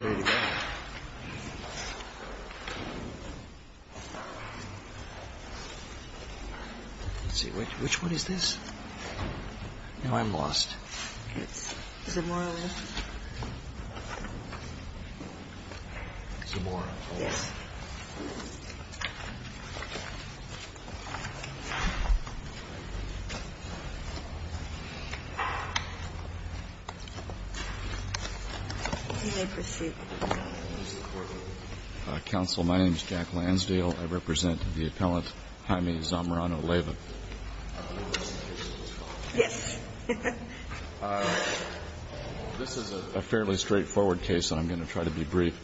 Let's see, which one is this? Now I'm lost. It's Zamorano-Leyva. Yes. Counsel, my name is Jack Lansdale. I represent the appellant Jaime Zamorano-Leyva. Yes. This is a fairly straightforward case, and I'm going to try to be brief.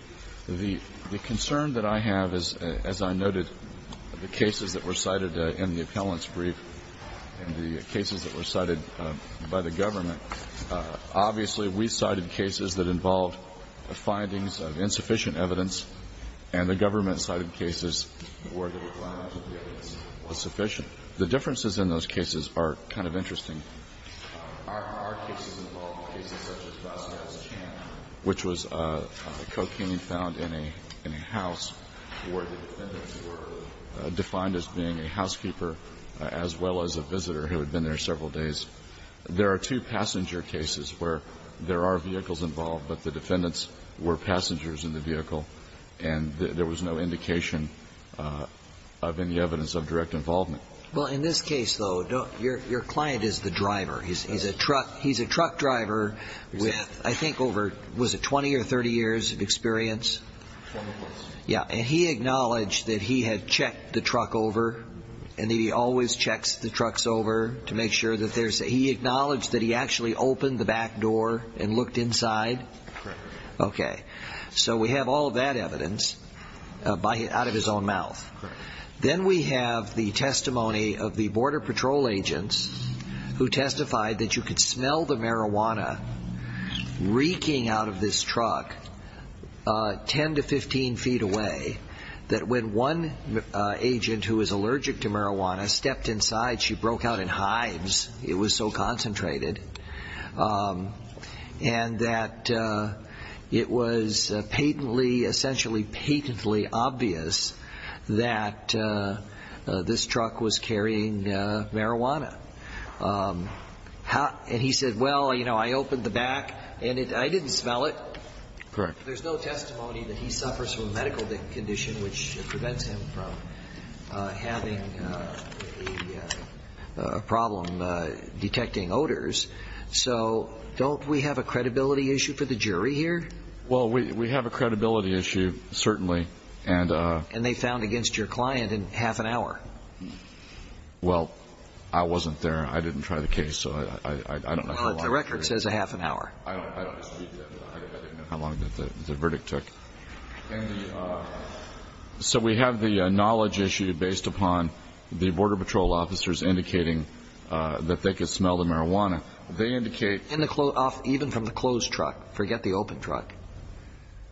The concern that I have is, as I noted, the cases that were cited in the appellant's brief and the cases that were cited by the government, obviously we cited cases that involved findings of insufficient evidence, and the government cited cases where the requirement of the evidence was sufficient. Our cases involved cases such as Vasquez Champ, which was cocaine found in a house where the defendants were defined as being a housekeeper as well as a visitor who had been there several days. There are two passenger cases where there are vehicles involved, but the defendants were passengers in the vehicle, and there was no indication of any evidence of direct involvement. Well, in this case, though, your client is the driver. He's a truck driver with, I think, over, was it 20 or 30 years of experience? 20 plus. Yes, and he acknowledged that he had checked the truck over, and that he always checks the trucks over to make sure that there's, he acknowledged that he actually opened the back door and looked inside? Correct. Okay. So we have all of that evidence out of his own mouth. Correct. Then we have the testimony of the Border Patrol agents who testified that you could smell the marijuana reeking out of this truck 10 to 15 feet away, that when one agent who was allergic to marijuana stepped inside, she broke out in hives. It was so concentrated, and that it was patently, essentially patently obvious that this truck was carrying marijuana. And he said, well, you know, I opened the back, and I didn't smell it. Correct. There's no testimony that he suffers from a medical condition which prevents him from having a problem detecting odors. So don't we have a credibility issue for the jury here? Well, we have a credibility issue, certainly. And they found against your client in half an hour. Well, I wasn't there. I didn't try the case. The record says a half an hour. I didn't know how long the verdict took. So we have the knowledge issue based upon the Border Patrol officers indicating that they could smell the marijuana. Even from the closed truck. Forget the open truck.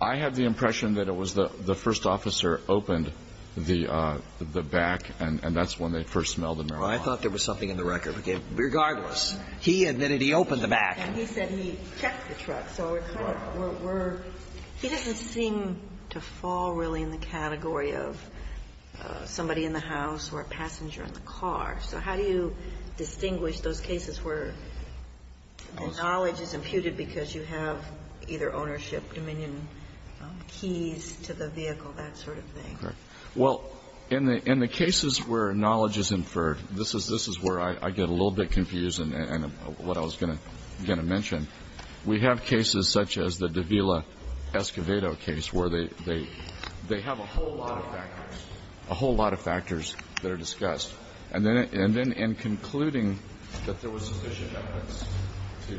I have the impression that it was the first officer opened the back, and that's when they first smelled the marijuana. I thought there was something in the record. Regardless, he admitted he opened the back. And he said he checked the truck. So we're kind of – we're – he doesn't seem to fall really in the category of somebody in the house or a passenger in the car. So how do you distinguish those cases where the knowledge is imputed because you have either ownership, dominion, keys to the vehicle, that sort of thing? Well, in the cases where knowledge is inferred, this is where I get a little bit confused and what I was going to mention. We have cases such as the Davila-Escobedo case where they have a whole lot of factors that are discussed. And then in concluding that there was sufficient evidence to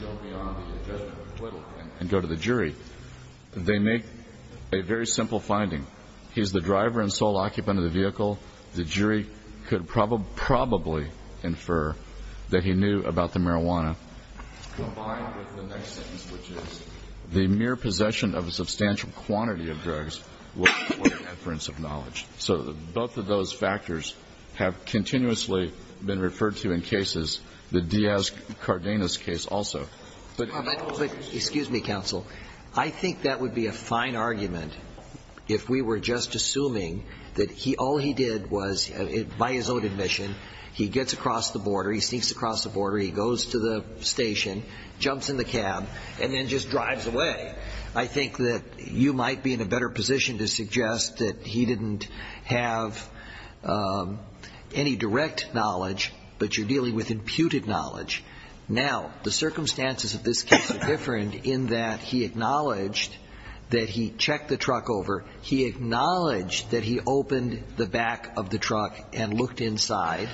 go beyond the judgment of acquittal and go to the jury, they make a very simple finding. He's the driver and sole occupant of the vehicle. The jury could probably infer that he knew about the marijuana. Combined with the next sentence, which is, the mere possession of a substantial quantity of drugs was an inference of knowledge. So both of those factors have continuously been referred to in cases. The Diaz-Cardenas case also. Excuse me, counsel. I think that would be a fine argument if we were just assuming that all he did was, by his own admission, he gets across the border, he sneaks across the border, he goes to the station, jumps in the cab, and then just drives away. I think that you might be in a better position to suggest that he didn't have any direct knowledge, but you're dealing with imputed knowledge. Now, the circumstances of this case are different in that he acknowledged that he checked the truck over. He acknowledged that he opened the back of the truck and looked inside.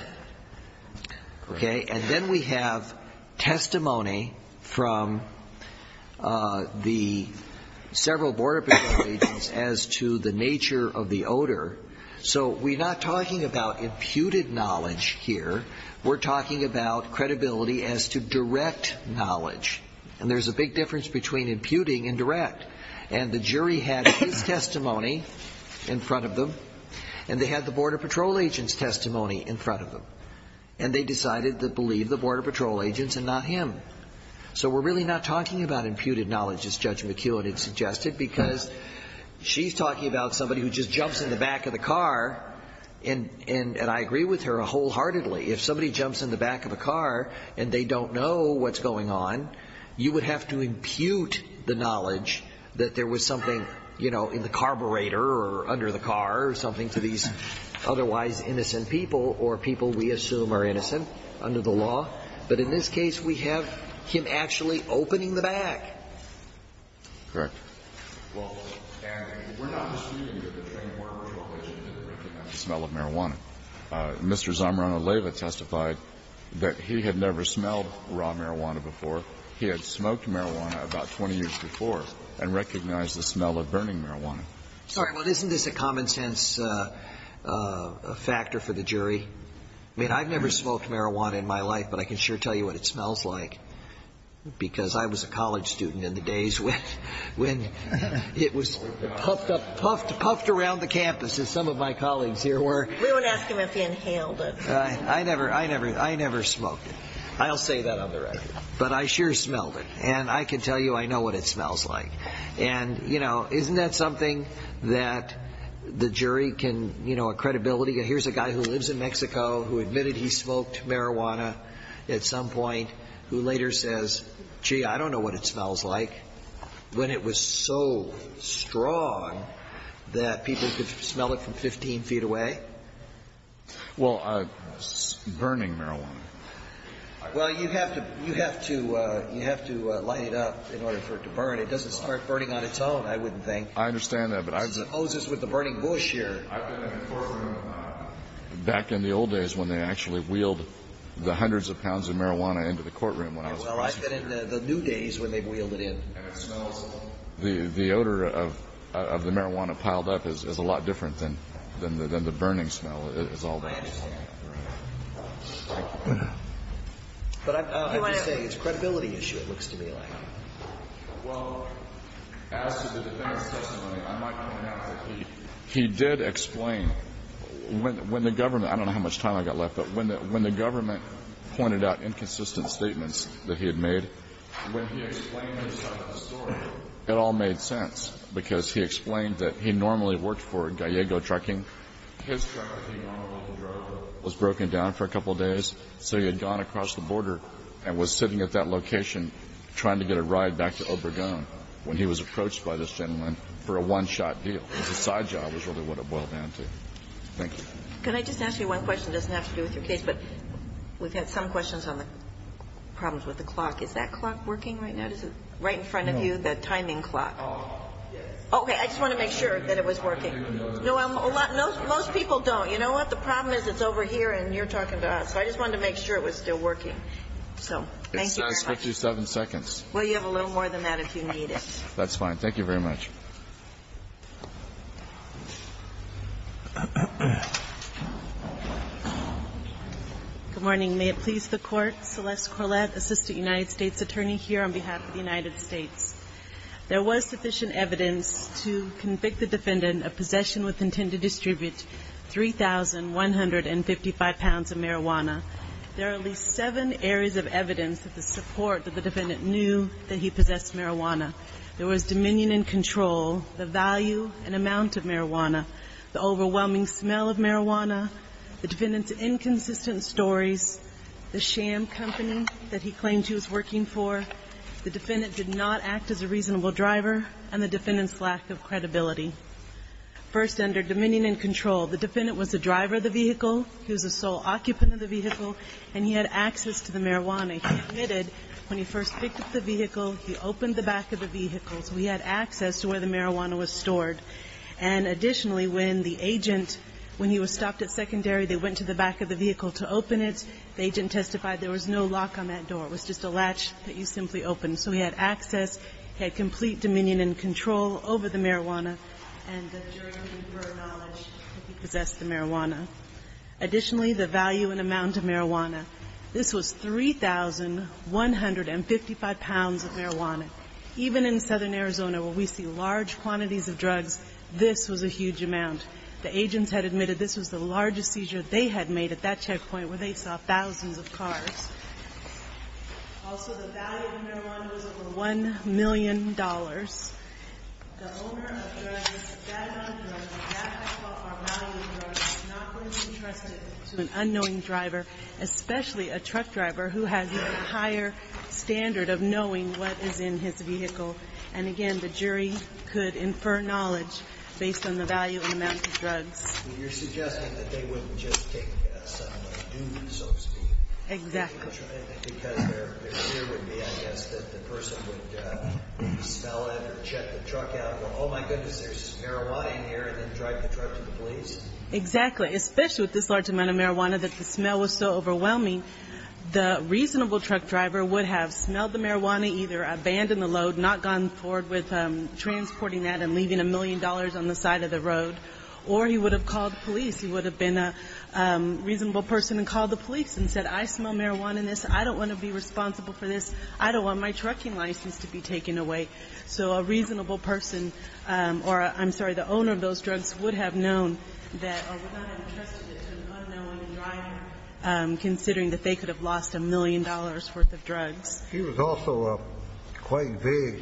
Okay. And then we have testimony from the several border patrol agents as to the nature of the odor. So we're not talking about imputed knowledge here. We're talking about credibility as to direct knowledge. And there's a big difference between imputing and direct. And the jury had his testimony in front of them, and they had the border patrol agent's testimony in front of them. And they decided to believe the border patrol agents and not him. So we're really not talking about imputed knowledge, as Judge McKeown had suggested, because she's talking about somebody who just jumps in the back of the car, and I agree with her wholeheartedly. If somebody jumps in the back of a car and they don't know what's going on, you would have to impute the knowledge that there was something, you know, in the carburetor or under the car or something to these otherwise innocent people or people we assume are innocent under the law. But in this case, we have him actually opening the back. Correct. Well, and we're not disputing that the trained border patrol agent didn't recognize the smell of marijuana. Mr. Zamorano-Leyva testified that he had never smelled raw marijuana before. He had smoked marijuana about 20 years before and recognized the smell of burning marijuana. Sorry. Well, isn't this a common-sense factor for the jury? I mean, I've never smoked marijuana in my life, but I can sure tell you what it smells like, because I was a college student in the days when it was puffed around the campus, as some of my colleagues here were. We won't ask him if he inhaled it. I never smoked it. I'll say that on the record. But I sure smelled it, and I can tell you I know what it smells like. And, you know, isn't that something that the jury can, you know, a credibility? Here's a guy who lives in Mexico who admitted he smoked marijuana at some point who later says, gee, I don't know what it smells like, when it was so strong that people could smell it from 15 feet away? Well, burning marijuana. Well, you have to light it up in order for it to burn. It doesn't start burning on its own, I would think. I understand that, but I've been ---- It's the Moses with the burning bush here. I've been in the courtroom back in the old days when they actually wheeled the hundreds of pounds of marijuana into the courtroom. Well, I've been in the new days when they've wheeled it in. And it smells ---- The odor of the marijuana piled up is a lot different than the burning smell. I understand. But I'm happy to say it's a credibility issue, it looks to me like. Well, as to the defendant's testimony, I might point out that he did explain when the government ---- I don't know how much time I've got left, but when the government pointed out inconsistent statements that he had made, when he explained his side of the story, it all made sense because he explained that he normally worked for Gallego Trucking. His truck that he normally drove was broken down for a couple of days, so he had gone across the border and was sitting at that location trying to get a ride back to Obregon when he was approached by this gentleman for a one-shot deal. His side job was really what it boiled down to. Thank you. Can I just ask you one question? It doesn't have to do with your case, but we've had some questions on the problems with the clock. Is that clock working right now? Is it right in front of you, the timing clock? No. Yes. Okay. I just wanted to make sure that it was working. No, I'm a lot ---- Most people don't. You know what? The problem is it's over here and you're talking to us. So I just wanted to make sure it was still working. So thank you very much. It says 57 seconds. Well, you have a little more than that if you need it. That's fine. Thank you very much. Good morning. May it please the Court. Celeste Corlett, Assistant United States Attorney, here on behalf of the United States. There was sufficient evidence to convict the defendant of possession with intent to distribute 3,155 pounds of marijuana. There are at least seven areas of evidence of the support that the defendant knew that he possessed marijuana. There was dominion and control, the value and amount of marijuana, the overwhelming smell of marijuana, the defendant's inconsistent stories, the sham company that he claimed he was working for, the defendant did not act as a reasonable driver, and the defendant's lack of credibility. First under dominion and control, the defendant was the driver of the vehicle, he was the sole occupant of the vehicle, and he had access to the marijuana. He admitted when he first picked up the vehicle, he opened the back of the vehicle, so he had access to where the marijuana was stored. And additionally, when the agent, when he was stopped at secondary, they went to the back of the vehicle to open it. The agent testified there was no lock on that door. It was just a latch that you simply open. So he had access, he had complete dominion and control over the marijuana, and the jury conferred knowledge that he possessed the marijuana. Additionally, the value and amount of marijuana. This was 3,155 pounds of marijuana. Even in southern Arizona where we see large quantities of drugs, this was a huge amount. The agents had admitted this was the largest seizure they had made at that checkpoint where they saw thousands of cars. Also, the value of marijuana was over $1 million. The owner of the marijuana was not going to be trusted to an unknowing driver, especially a truck driver who has a higher standard of knowing what is in his vehicle. And, again, the jury could infer knowledge based on the value and amount of drugs. You're suggesting that they wouldn't just take somebody's doon, so to speak. Exactly. Because their fear would be, I guess, that the person would smell it or check the truck out and go, oh, my goodness, there's marijuana in here, and then drive the truck to the police? Exactly. Especially with this large amount of marijuana that the smell was so overwhelming, the reasonable truck driver would have smelled the marijuana, either abandoned the load, not gone forward with transporting that and leaving $1 million on the side of the road, or he would have called the police. He would have been a reasonable person and called the police and said, I smell marijuana in this. I don't want to be responsible for this. I don't want my trucking license to be taken away. So a reasonable person or, I'm sorry, the owner of those drugs would have known that, or would not have entrusted it to an unknown driver, considering that they could have lost $1 million worth of drugs. He was also quite vague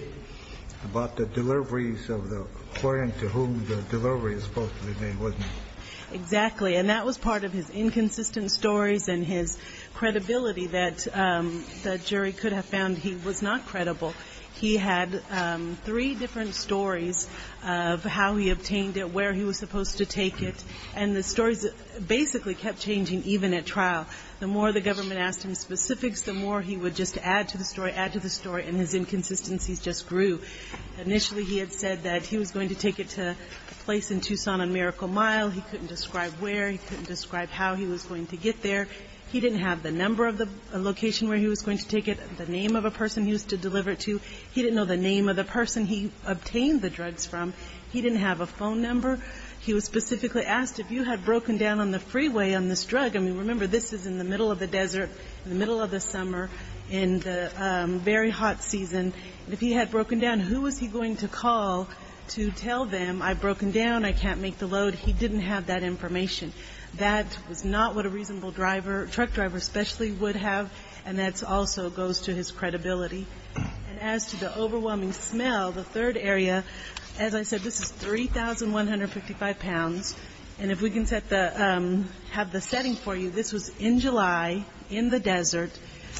about the deliveries of the, according to whom the delivery was supposed to be made, wasn't he? Exactly. And that was part of his inconsistent stories and his credibility that the jury could have found he was not credible. He had three different stories of how he obtained it, where he was supposed to take it, and the stories basically kept changing even at trial. The more the government asked him specifics, the more he would just add to the story, add to the story, and his inconsistencies just grew. Initially he had said that he was going to take it to a place in Tucson on Miracle Mile. He couldn't describe where. He couldn't describe how he was going to get there. He didn't have the number of the location where he was going to take it, the name of a person he was to deliver it to. He didn't know the name of the person he obtained the drugs from. He didn't have a phone number. He was specifically asked if you had broken down on the freeway on this drug. I mean, remember, this is in the middle of the desert, in the middle of the summer, in the very hot season. If he had broken down, who was he going to call to tell them, I've broken down, I can't make the load? He didn't have that information. That was not what a reasonable truck driver especially would have, and that also goes to his credibility. And as to the overwhelming smell, the third area, as I said, this is 3,155 pounds. And if we can have the setting for you, this was in July in the desert.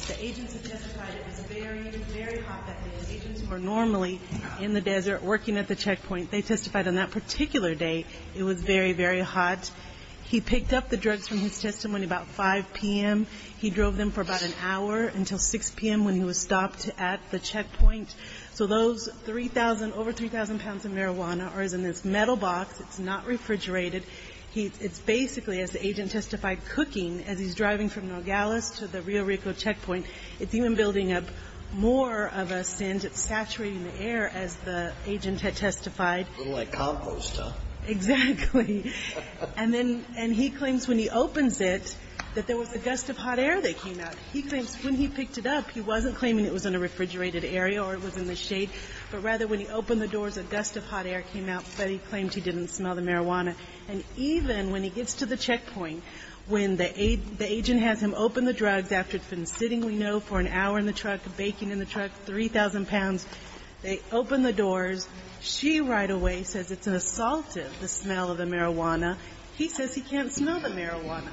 The agents have testified it was very, very hot that day. The agents who are normally in the desert working at the checkpoint, they testified on that particular day it was very, very hot. He picked up the drugs from his testimony about 5 p.m. He drove them for about an hour until 6 p.m. when he was stopped at the checkpoint. So those 3,000, over 3,000 pounds of marijuana are in this metal box. It's not refrigerated. It's basically, as the agent testified, cooking as he's driving from Nogales to the Rio Rico checkpoint. It's even building up more of a scent. It's saturating the air, as the agent had testified. A little like compost, huh? Exactly. And then he claims when he opens it that there was a gust of hot air that came out. He claims when he picked it up, he wasn't claiming it was in a refrigerated area or it was in the shade, but rather when he opened the doors, a gust of hot air came out, but he claimed he didn't smell the marijuana. And even when he gets to the checkpoint, when the agent has him open the drugs after it's been sitting, we know, for an hour in the truck, baking in the truck, 3,000 pounds, they open the doors. She right away says it's an assaultive, the smell of the marijuana. He says he can't smell the marijuana.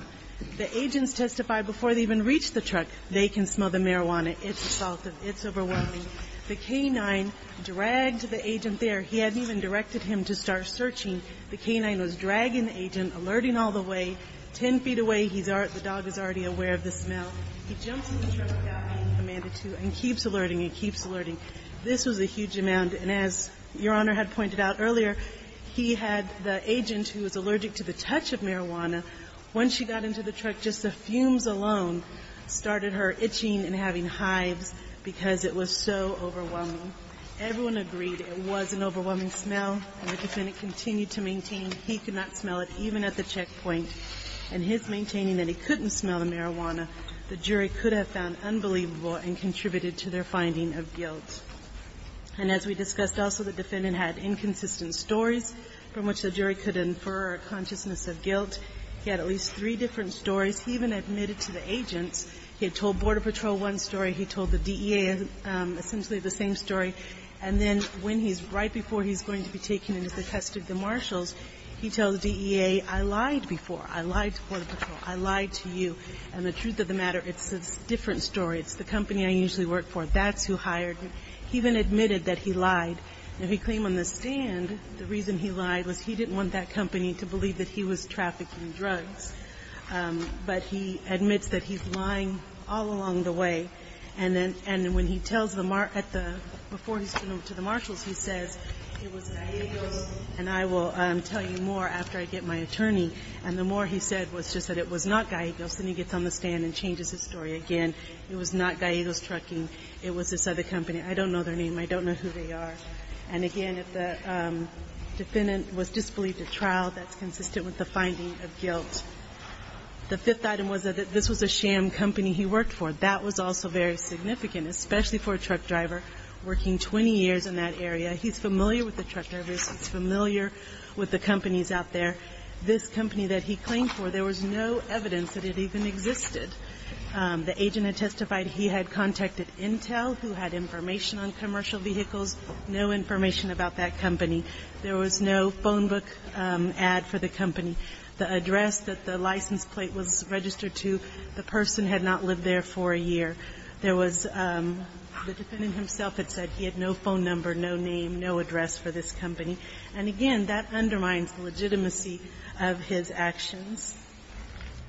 The agents testified before they even reached the truck, they can smell the marijuana. It's assaultive. It's overwhelming. The K-9 dragged the agent there. He hadn't even directed him to start searching. The K-9 was dragging the agent, alerting all the way. Ten feet away, the dog is already aware of the smell. He jumps in the truck without being commanded to and keeps alerting and keeps alerting. This was a huge amount, and as Your Honor had pointed out earlier, he had the agent who was allergic to the touch of marijuana. When she got into the truck, just the fumes alone started her itching and having hives because it was so overwhelming. Everyone agreed it was an overwhelming smell, and the defendant continued to maintain he could not smell it, even at the checkpoint. And his maintaining that he couldn't smell the marijuana, the jury could have found unbelievable and contributed to their finding of guilt. And as we discussed also, the defendant had inconsistent stories from which the jury could infer a consciousness of guilt. He had at least three different stories. He even admitted to the agents. He had told Border Patrol one story. He told the DEA essentially the same story. And then when he's right before he's going to be taken into the custody of the marshals, he tells the DEA, I lied before. I lied to Border Patrol. I lied to you. And the truth of the matter, it's a different story. It's the company I usually work for. That's who hired me. He even admitted that he lied. And he claimed on the stand the reason he lied was he didn't want that company to believe that he was trafficking drugs. But he admits that he's lying all along the way. And when he tells the marshals, he says, it was Gallegos. And I will tell you more after I get my attorney. And the more he said was just that it was not Gallegos. Then he gets on the stand and changes his story again. It was not Gallegos Trucking. It was this other company. I don't know their name. I don't know who they are. And, again, if the defendant was disbelieved at trial, that's consistent with the finding of guilt. The fifth item was that this was a sham company he worked for. That was also very significant, especially for a truck driver working 20 years in that area. He's familiar with the truck drivers. He's familiar with the companies out there. This company that he claimed for, there was no evidence that it even existed. The agent had testified he had contacted Intel, who had information on commercial vehicles. No information about that company. There was no phone book ad for the company. The address that the license plate was registered to, the person had not lived there for a year. There was the defendant himself had said he had no phone number, no name, no address for this company. And, again, that undermines the legitimacy of his actions.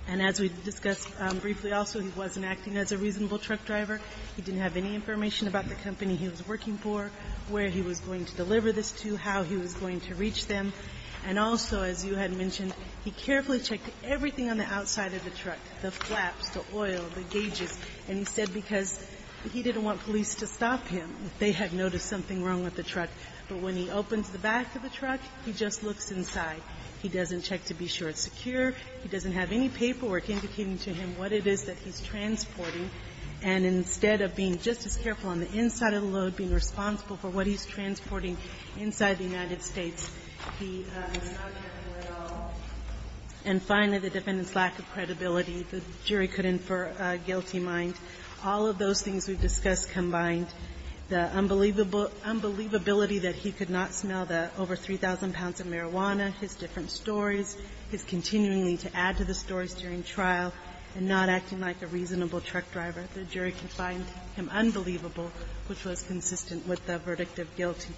And as we discussed briefly also, he wasn't acting as a reasonable truck driver. He didn't have any information about the company he was working for, where he was going to deliver this to, how he was going to reach them. And also, as you had mentioned, he carefully checked everything on the outside of the truck, the flaps, the oil, the gauges. And he said because he didn't want police to stop him. They had noticed something wrong with the truck. But when he opens the back of the truck, he just looks inside. He doesn't check to be sure it's secure. He doesn't have any paperwork indicating to him what it is that he's transporting. And instead of being just as careful on the inside of the load, being responsible for what he's transporting inside the United States, he was not careful at all. And finally, the defendant's lack of credibility. The jury could infer a guilty mind. All of those things we've discussed combined. The unbelievability that he could not smell the over 3,000 pounds of marijuana, his different stories, his continuing to add to the stories during trial, and not acting like a reasonable truck driver. The jury could find him unbelievable, which was consistent with the verdict of guilty.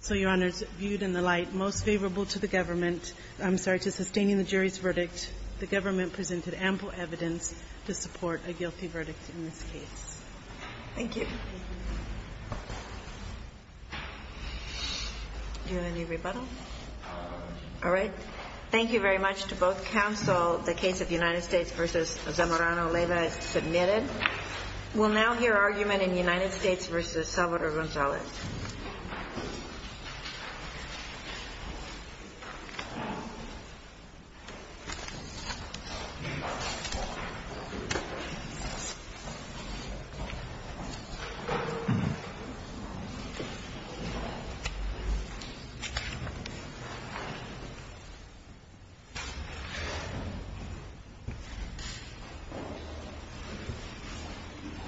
So, Your Honors, viewed in the light most favorable to the government, I'm sorry, to sustaining the jury's verdict, the government presented ample evidence to support a guilty verdict in this case. Thank you. Do you have any rebuttal? All right. Thank you very much to both counsel. The case of United States v. Zamorano-Leyva is submitted. We'll now hear argument in United States v. Salvador Gonzalez. Thank you.